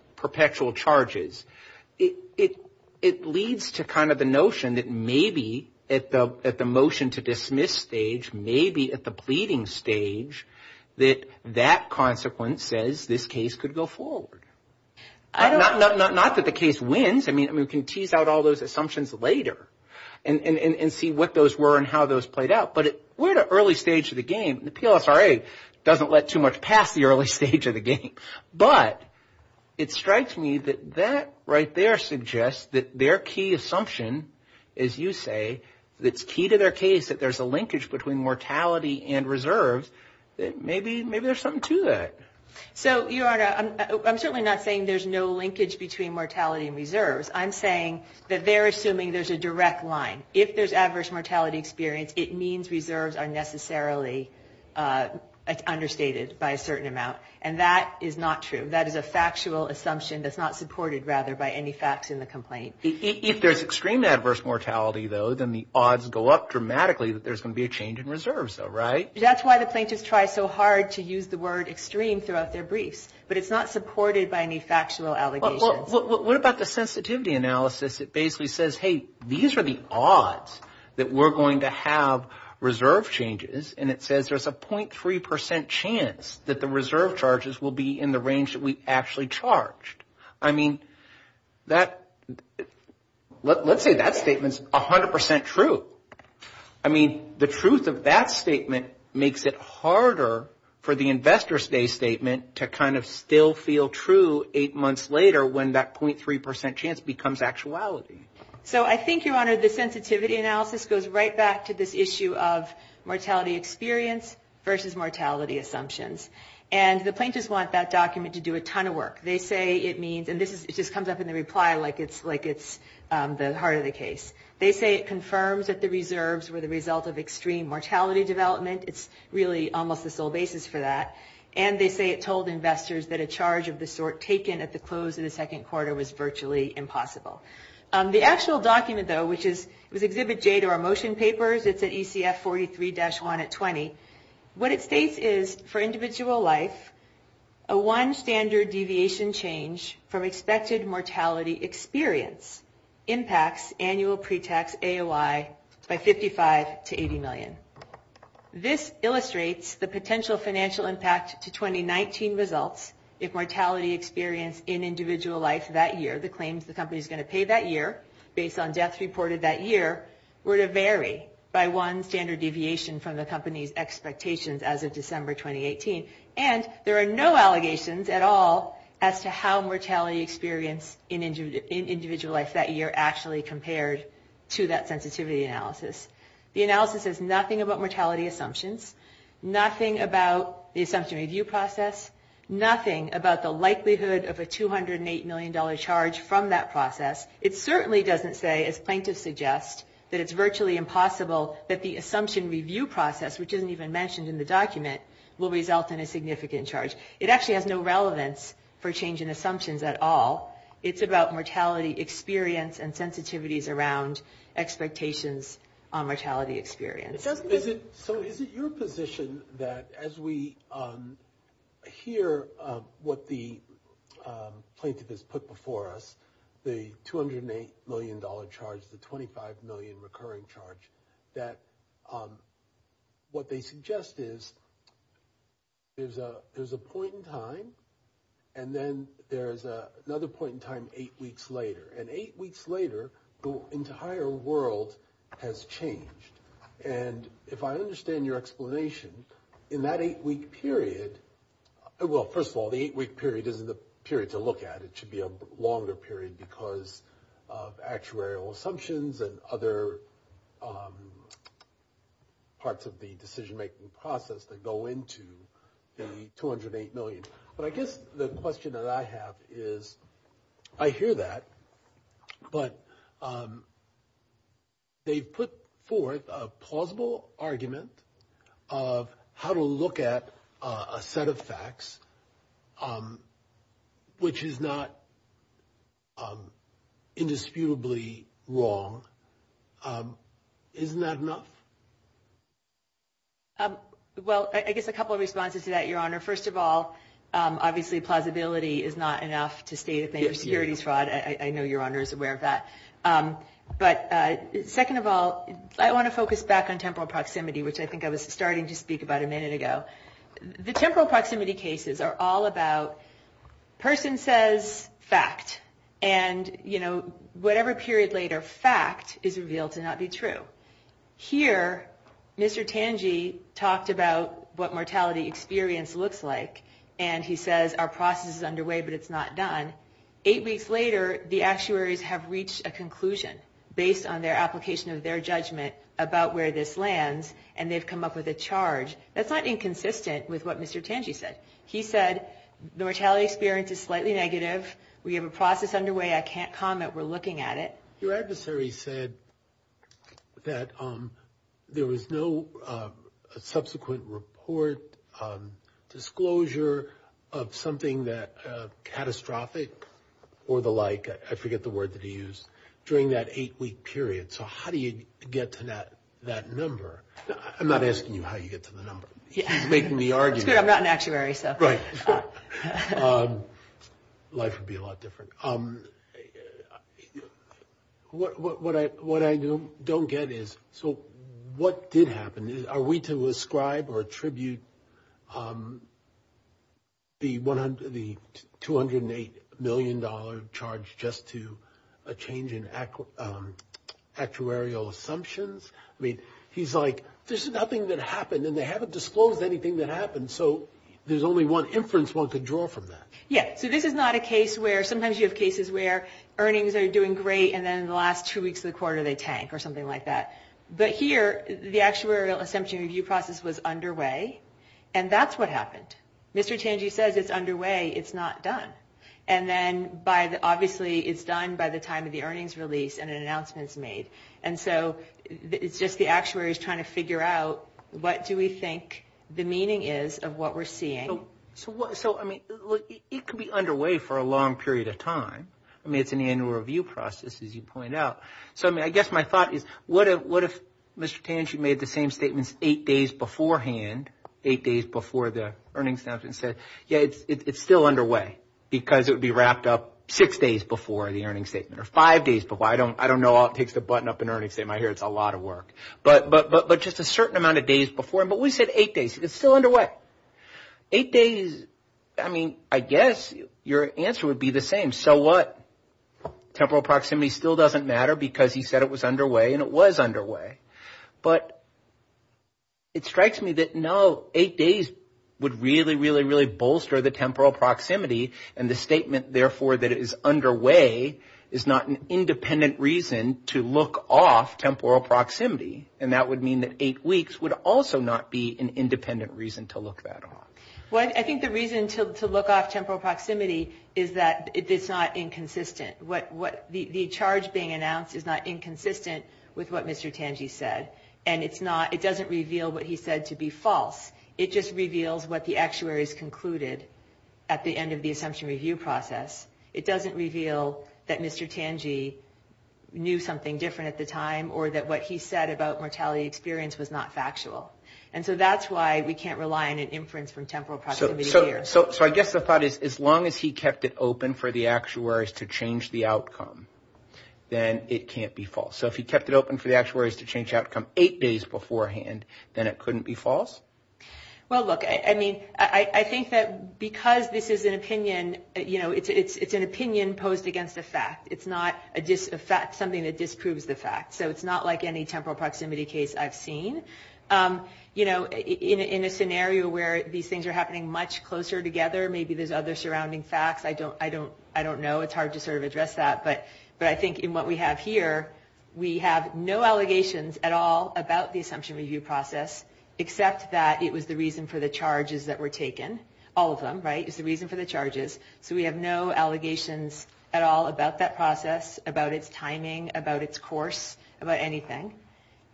early stage, maybe at the pleading stage, that that consequence says this case could go forward. Not that the case wins. I mean, we can tease out all those assumptions later and see what those were and how those played out. But we're at an early stage of the game. The PLSRA doesn't let too much pass the early stage of the game. But it strikes me that that right there suggests that their key assumption, as you say, that's key to their case, that there's a linkage between mortality and reserves, that maybe there's something to that. So, Your Honor, I'm certainly not saying there's no linkage between mortality and reserves. I'm saying that they're assuming there's a direct line. If there's adverse mortality experience, it means reserves are necessarily understated by a certain amount. And that is not true. That is a factual assumption that's not supported, rather, by any facts in the complaint. If there's extreme adverse mortality, though, then the odds go up dramatically that there's going to be a change in reserves, though, right? That's why the plaintiffs try so hard to use the word extreme throughout their briefs. But it's not supported by any factual allegations. Well, what about the sensitivity analysis that basically says, hey, these are the odds that we're going to have reserve changes. And it says there's a .3% chance that the reserve charges will be in the range that we actually charged. I mean, let's say that statement's 100% true. I mean, the truth of that statement makes it harder for the investor's day statement to kind of still feel true eight months later, when that .3% chance becomes actuality. So I think, Your Honor, the sensitivity analysis goes right back to this issue of mortality experience versus mortality assumptions. And the plaintiffs want that document to do a ton of work. They say it means, and this just comes up in the reply like it's the heart of the case. They say it confirms that the reserves were the result of extreme mortality development. It's really almost the sole basis for that. And they say it told investors that a charge of the sort taken at the close of the second quarter was virtually impossible. The actual document, though, which is Exhibit J to our motion papers, it's at ECF 43-1 at 20. What it states is, for individual life, a one standard deviation change from expected mortality experience impacts annual pre-tax AOI by 55 to 80 million. This illustrates the potential financial impact to 2019 results if mortality experience in individual life that year, the claims the company is going to pay that year based on death reported that year, were to vary by one standard deviation from the company's expectations as of December 2018. And there are no allegations at all as to how mortality experience in individual life that year actually compared to that sensitivity analysis. The analysis says nothing about mortality assumptions, nothing about the assumption review process, nothing about the likelihood of a $208 million charge from that process. It certainly doesn't say, as plaintiffs suggest, that it's virtually impossible that the assumption review process, which isn't even mentioned in the document, will result in a significant charge. It actually has no relevance for change in assumptions at all. It's about mortality experience and sensitivities around expectations on mortality experience. So is it your position that as we hear what the plaintiff has put before us, the $208 million charge, the 25 million recurring charge, that what they suggest is there's a point in time, and then there's another point in time eight weeks later. And eight weeks later, the entire world has changed. And if I understand your explanation, in that eight-week period, well, first of all, the eight-week period isn't a period to look at. It should be a longer period because of actuarial assumptions and other parts of the decision-making process that go into the $208 million. But I guess the question that I have is, I hear that, but they've put forth a plausible argument of how to look at a set of facts, which is not indisputably wrong. Isn't that enough? Well, I guess a couple of responses to that, Your Honor. First of all, obviously, plausibility is not enough to state a plaintiff's securities fraud. I know Your Honor is aware of that. But second of all, I want to focus back on temporal proximity, which I think I was starting to speak about a minute ago. The temporal proximity cases are all about person says fact, and whatever period later fact is revealed to not be true. Here, Mr. Tangi talked about what mortality experience looks like, and he says our process is underway, but it's not done. Eight weeks later, the actuaries have reached a conclusion based on their application of their judgment about where this lands, and they've come up with a charge. That's not inconsistent with what Mr. Tangi said. He said the mortality experience is slightly negative, we have a process underway, I can't comment, we're looking at it. Your adversary said that there was no subsequent report, disclosure of something that catastrophic or the like, I forget the word that he used, during that eight-week period, so how do you get to that number? I'm not asking you how you get to the number, he's making the argument. Life would be a lot different. What I don't get is, so what did happen? Are we to ascribe or attribute the $208 million charge just to a change in actuarial assumptions? He's like, there's nothing that happened, and they haven't disclosed anything that happened, so there's only one inference one could draw from that. Yeah, so this is not a case where, sometimes you have cases where earnings are doing great, and then in the last two weeks of the quarter they tank, or something like that. But here, the actuarial assumption review process was underway, and that's what happened. Mr. Tangi says it's underway, it's not done. And then, obviously, it's done by the time of the earnings release and an announcement's made. And so, it's just the actuaries trying to figure out what do we think the meaning is of what we're seeing. So, it could be underway for a long period of time. I mean, it's an annual review process, as you point out. So, I mean, I guess my thought is, what if Mr. Tangi made the same statements eight days beforehand, eight days before the earnings announcement, and said, yeah, it's still underway, because it would be wrapped up six days before the earnings statement, or five days before. I don't know how it takes to button up an earnings statement. I hear it's a lot of work. But just a certain amount of days before, but we said eight days. It's still underway. Eight days, I mean, I guess your answer would be the same. So what? Temporal proximity still doesn't matter, because he said it was underway, and it was underway. But it strikes me that no, eight days would really, really, really bolster the temporal proximity, and the statement, therefore, that it is underway is not an independent reason to look off temporal proximity. And that would mean that eight weeks would also not be an independent reason to look that off. Well, I think the reason to look off temporal proximity is that it's not inconsistent. The charge being announced is not inconsistent with what Mr. Tangi said, and it doesn't reveal what he said to be false. It just reveals what the actuaries concluded at the end of the assumption review process. It doesn't reveal that Mr. Tangi knew something different at the time, or that what he said about mortality experience was not factual. And so that's why we can't rely on an inference from temporal proximity here. So I guess the thought is as long as he kept it open for the actuaries to change the outcome, then it can't be false. So if he kept it open for the actuaries to change the outcome eight days beforehand, then it couldn't be false? Well, look, I mean, I think that because this is an opinion, you know, it's an opinion posed against a fact. It's not something that disproves the fact. So it's not like any temporal proximity case I've seen. You know, in a scenario where these things are happening much closer together, maybe there's other surrounding facts. I don't know. It's hard to sort of address that. But I think in what we have here, we have no allegations at all about the assumption review process, except that it was the reason for the charges that were taken. All of them, right? It was the reason for the charges. So we have no allegations at all about that process, about its timing, about its course, about anything.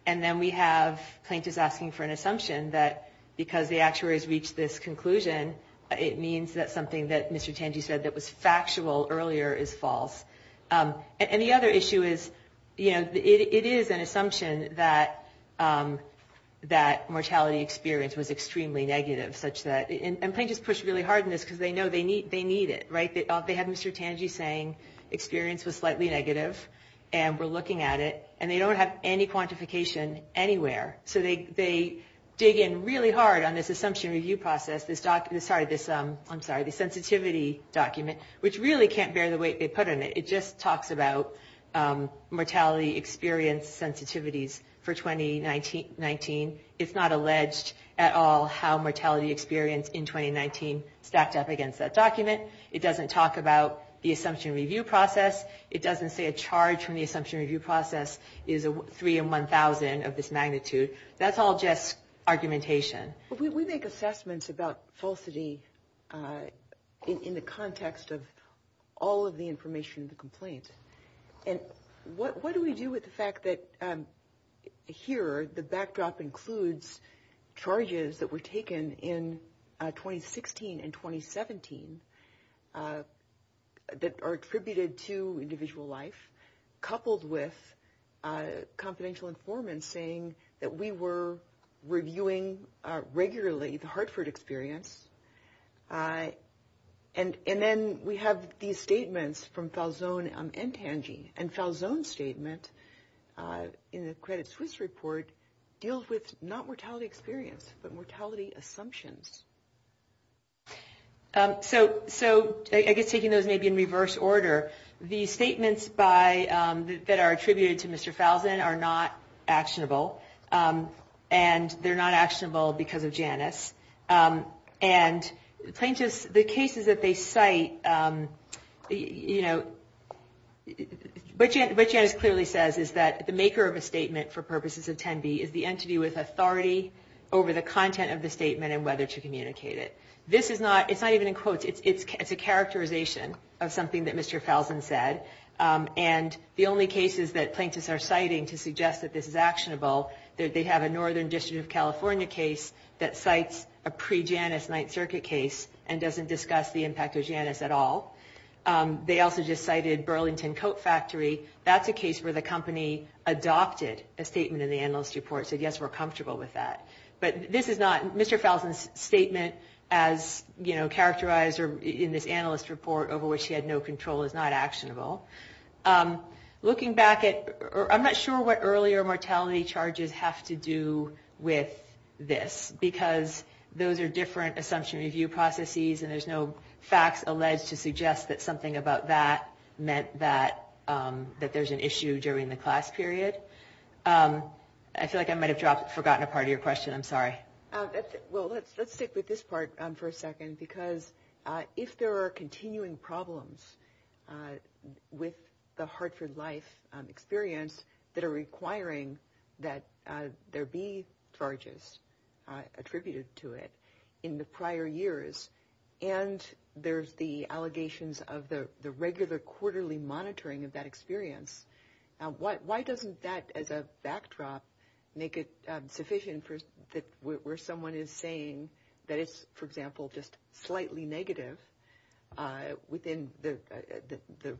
And then we have plaintiffs asking for an assumption that because the actuaries reached this conclusion, it means that something that Mr. Tanji said that was factual earlier is false. And the other issue is, you know, it is an assumption that mortality experience was extremely negative, such that – and plaintiffs push really hard on this because they know they need it, right? They had Mr. Tanji saying experience was slightly negative, and we're looking at it, and they don't have any quantification anywhere. So they dig in really hard on this assumption review process, this document – I'm sorry, this sensitivity document, which really can't bear the weight they put in it. It just talks about mortality experience sensitivities for 2019. It's not alleged at all how mortality experience in 2019 stacked up against that document. It doesn't talk about the assumption review process. It doesn't say a charge from the assumption review process is 3 in 1,000 of this magnitude. That's all just argumentation. We make assessments about falsity in the context of all of the information in the complaint. And what do we do with the fact that here the backdrop includes charges that were taken in 2016 and 2017 that are attributed to individual life, coupled with confidential informants saying that we were reviewing regularly the Hartford experience? And then we have these statements from Falzon and Tanji, and Falzon's statement in the Credit Suisse report deals with not mortality experience, but mortality assumptions. So I guess taking those maybe in reverse order, the statements that are attributed to Mr. Falzon are not actionable, and they're not actionable because of Janice. And the cases that they cite, what Janice clearly says is that the maker of a statement for purposes of 10B is the entity with authority over the content of the statement and whether to communicate it. It's not even in quotes. It's a characterization of something that Mr. Falzon said, and the only cases that plaintiffs are citing to suggest that this is actionable, they have a Northern District of California case that cites a pre-Janice Ninth Circuit case and doesn't discuss the impact of Janice at all. They also just cited Burlington Coat Factory. That's a case where the company adopted a statement in the analyst report, said, yes, we're comfortable with that. But Mr. Falzon's statement as characterized in this analyst report over which he had no control is not actionable. Looking back, I'm not sure what earlier mortality charges have to do with this, because those are different assumption review processes, and there's no facts alleged to suggest that something about that meant that there's an issue during the class period. I feel like I might have forgotten a part of your question. I'm sorry. Well, let's stick with this part for a second, because if there are continuing problems with the Hartford Life experience that are requiring that there be charges attributed to it in the prior years, and there's the allegations of the regular quarterly monitoring of that experience, why doesn't that, as a backdrop, make it sufficient where someone is saying that it's, for example, just slightly negative within the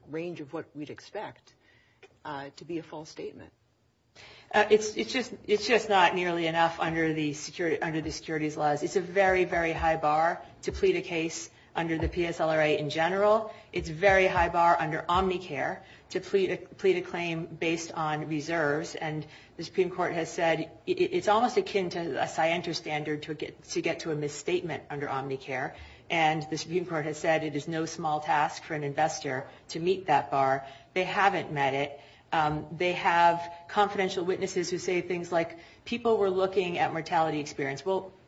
range of what we'd expect to be a false statement? It's just not nearly enough under the securities laws. It's a very, very high bar to plead a case under the PSLRA in general. It's a very high bar under Omnicare to plead a claim based on reserves, and the Supreme Court has said it's almost akin to a scienter standard to get to a misstatement under Omnicare, and the Supreme Court has said it is no small task for an investor to meet that bar. They haven't met it. They have confidential witnesses who say things like people were looking at mortality experience.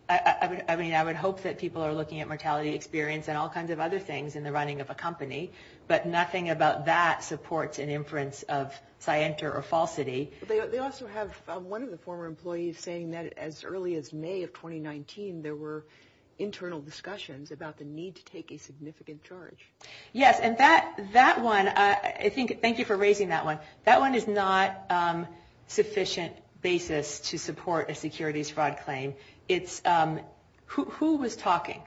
I would hope that people are looking at mortality experience and all kinds of other things in the running of a company, but nothing about that supports an inference of scienter or falsity. They also have one of the former employees saying that as early as May of 2019, there were internal discussions about the need to take a significant charge. Yes, and that one, thank you for raising that one, that one is not a sufficient basis to support a securities fraud claim. Who was talking?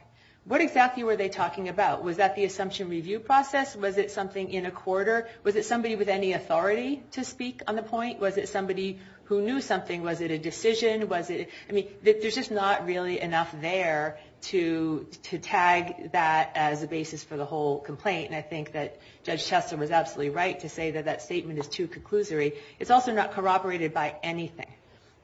What exactly were they talking about? Was that the assumption review process? Was it something in a quarter? Was it somebody with any authority to speak on the point? Was it somebody who knew something? Was it a decision? I mean, there's just not really enough there to tag that as a basis for the whole complaint, and I think that Judge Chester was absolutely right to say that that statement is too conclusory. It's also not corroborated by anything,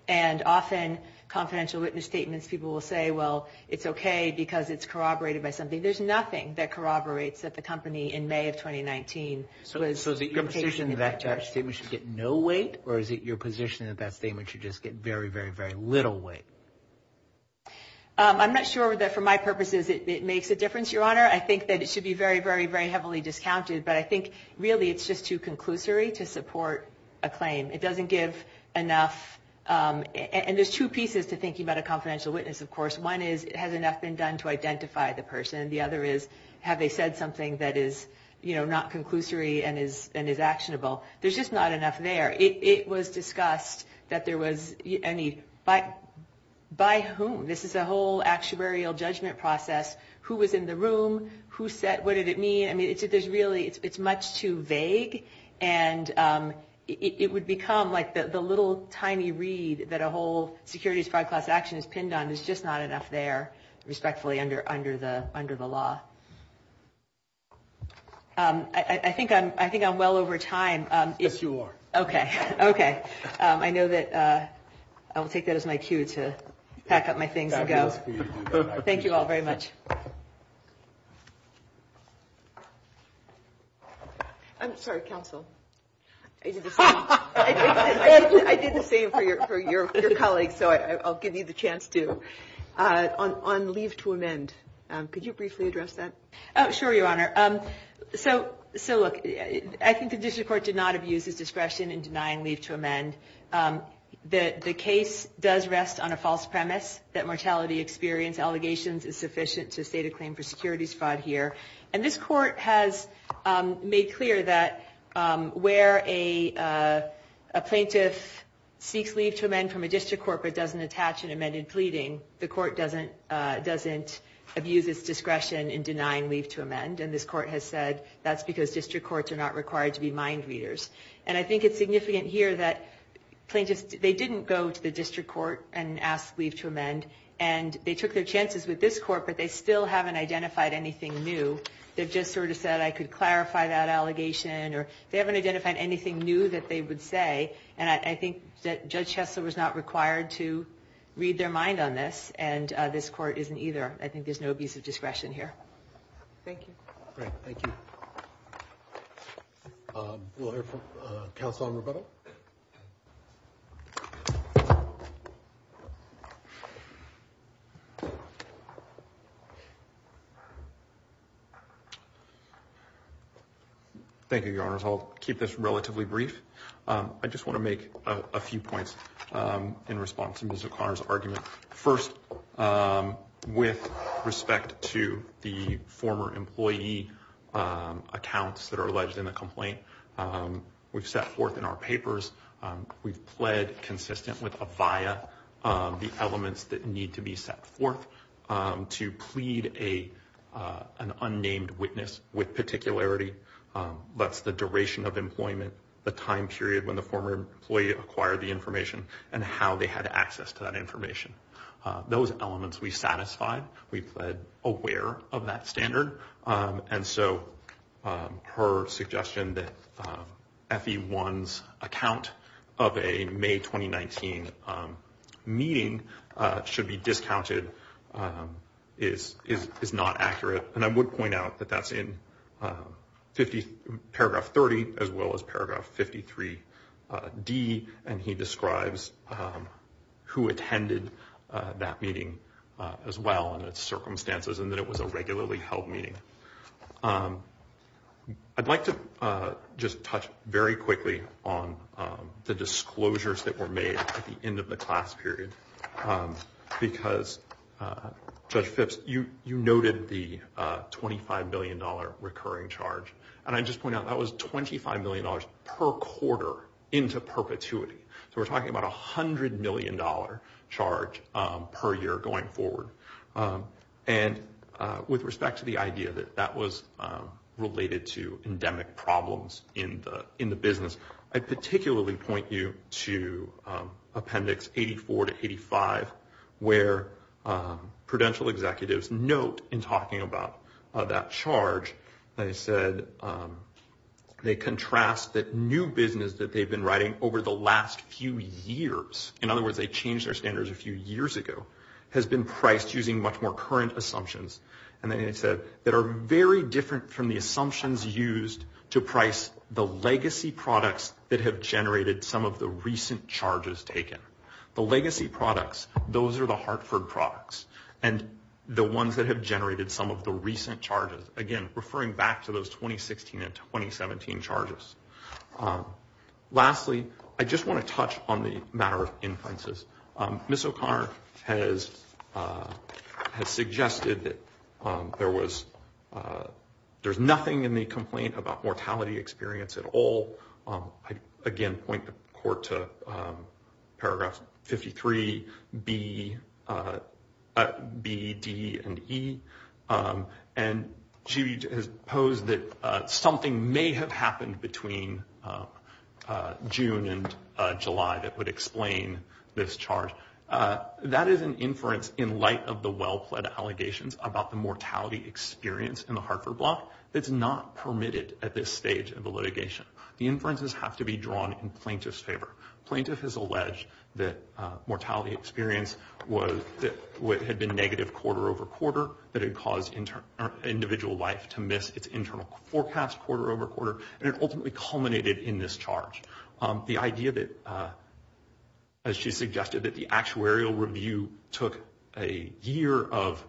and often confidential witness statements, people will say, well, it's okay because it's corroborated by something. There's nothing that corroborates that the company in May of 2019 was taking a charge. So is it your position that that statement should get no weight, or is it your position that that statement should just get very, very, very little weight? I'm not sure that for my purposes it makes a difference, Your Honor. I think that it should be very, very, very heavily discounted, but I think really it's just too conclusory to support a claim. It doesn't give enough, and there's two pieces to thinking about a confidential witness, of course. One is, has enough been done to identify the person? The other is, have they said something that is not conclusory and is actionable? There's just not enough there. It was discussed that there was any, by whom? This is a whole actuarial judgment process. Who was in the room? What did it mean? I mean, there's really, it's much too vague, and it would become like the little tiny read that a whole securities fraud class action is pinned on. There's just not enough there, respectfully, under the law. I think I'm well over time. Yes, you are. Okay. I know that I will take that as my cue to pack up my things and go. Thank you all very much. I'm sorry, counsel. I did the same for your colleagues, so I'll give you the chance to. On leave to amend, could you briefly address that? Sure, Your Honor. So, look, I think the district court did not abuse its discretion in denying leave to amend. The case does rest on a false premise that mortality experience allegations is sufficient to state a claim for securities fraud here. And this court has made clear that where a plaintiff seeks leave to amend from a district court but doesn't attach an amended pleading, the court doesn't abuse its discretion in denying leave to amend. And this court has said that's because district courts are not required to be mind readers. And I think it's significant here that they didn't go to the district court and ask leave to amend. And they took their chances with this court, but they still haven't identified anything new. They've just sort of said, I could clarify that allegation. They haven't identified anything new that they would say. And I think that Judge Hesler was not required to read their mind on this, and this court isn't either. I think there's no abuse of discretion here. Thank you. Thank you. We'll hear from Counselor Roberto. Thank you, Your Honors. I'll keep this relatively brief. I just want to make a few points in response to Ms. O'Connor's argument. First, with respect to the former employee accounts that are alleged in the complaint, we've set forth in our papers, we've pled consistent with a via the elements that need to be set forth to plead an unnamed witness with particularity. That's the duration of employment, the time period when the former employee acquired the information, and how they had access to that information. Those elements we satisfied. We pled aware of that standard. And so her suggestion that FE1's account of a May 2019 meeting should be discounted is not accurate. And I would point out that that's in paragraph 30, as well as paragraph 53D. And he describes who attended that meeting, as well, and its circumstances, and that it was a regularly held meeting. I'd like to just touch very quickly on the disclosures that were made at the end of the class period. Because, Judge Phipps, you noted the $25 million recurring charge. And I'd just point out that was $25 million per quarter into perpetuity. So we're talking about a $100 million charge per year going forward. And with respect to the idea that that was related to endemic problems in the business, I'd particularly point you to Appendix 84 to 85, where prudential executives note in talking about that charge, they said they contrast that new business that they've been writing over the last few years. In other words, they changed their standards a few years ago, has been priced using much more current assumptions. And they said that are very different from the assumptions used to price the legacy products that have generated some of the recent charges taken. The legacy products, those are the Hartford products. And the ones that have generated some of the recent charges. Again, referring back to those 2016 and 2017 charges. Lastly, I just want to touch on the matter of inferences. Ms. O'Connor has suggested that there's nothing in the complaint about mortality experience at all. Again, point the court to paragraphs 53B, D, and E. And she has posed that something may have happened between June and July that would explain this charge. That is an inference in light of the well-pled allegations about the mortality experience in the Hartford block. It's not permitted at this stage of the litigation. The inferences have to be drawn in plaintiff's favor. Plaintiff has alleged that mortality experience had been negative quarter over quarter. That it caused individual life to miss its internal forecast quarter over quarter. And it ultimately culminated in this charge. The idea that, as she suggested, that the actuarial review took a year of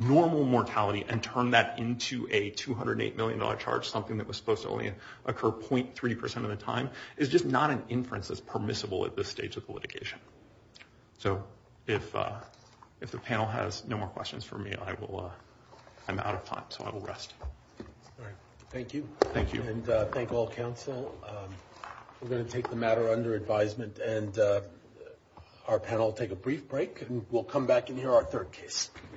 normal mortality and turned that into a $208 million charge. Something that was supposed to only occur 0.3% of the time. It's just not an inference that's permissible at this stage of the litigation. So if the panel has no more questions for me, I'm out of time. So I will rest. Thank you. Thank you. And thank all counsel. We're going to take the matter under advisement. And our panel will take a brief break. And we'll come back and hear our third case.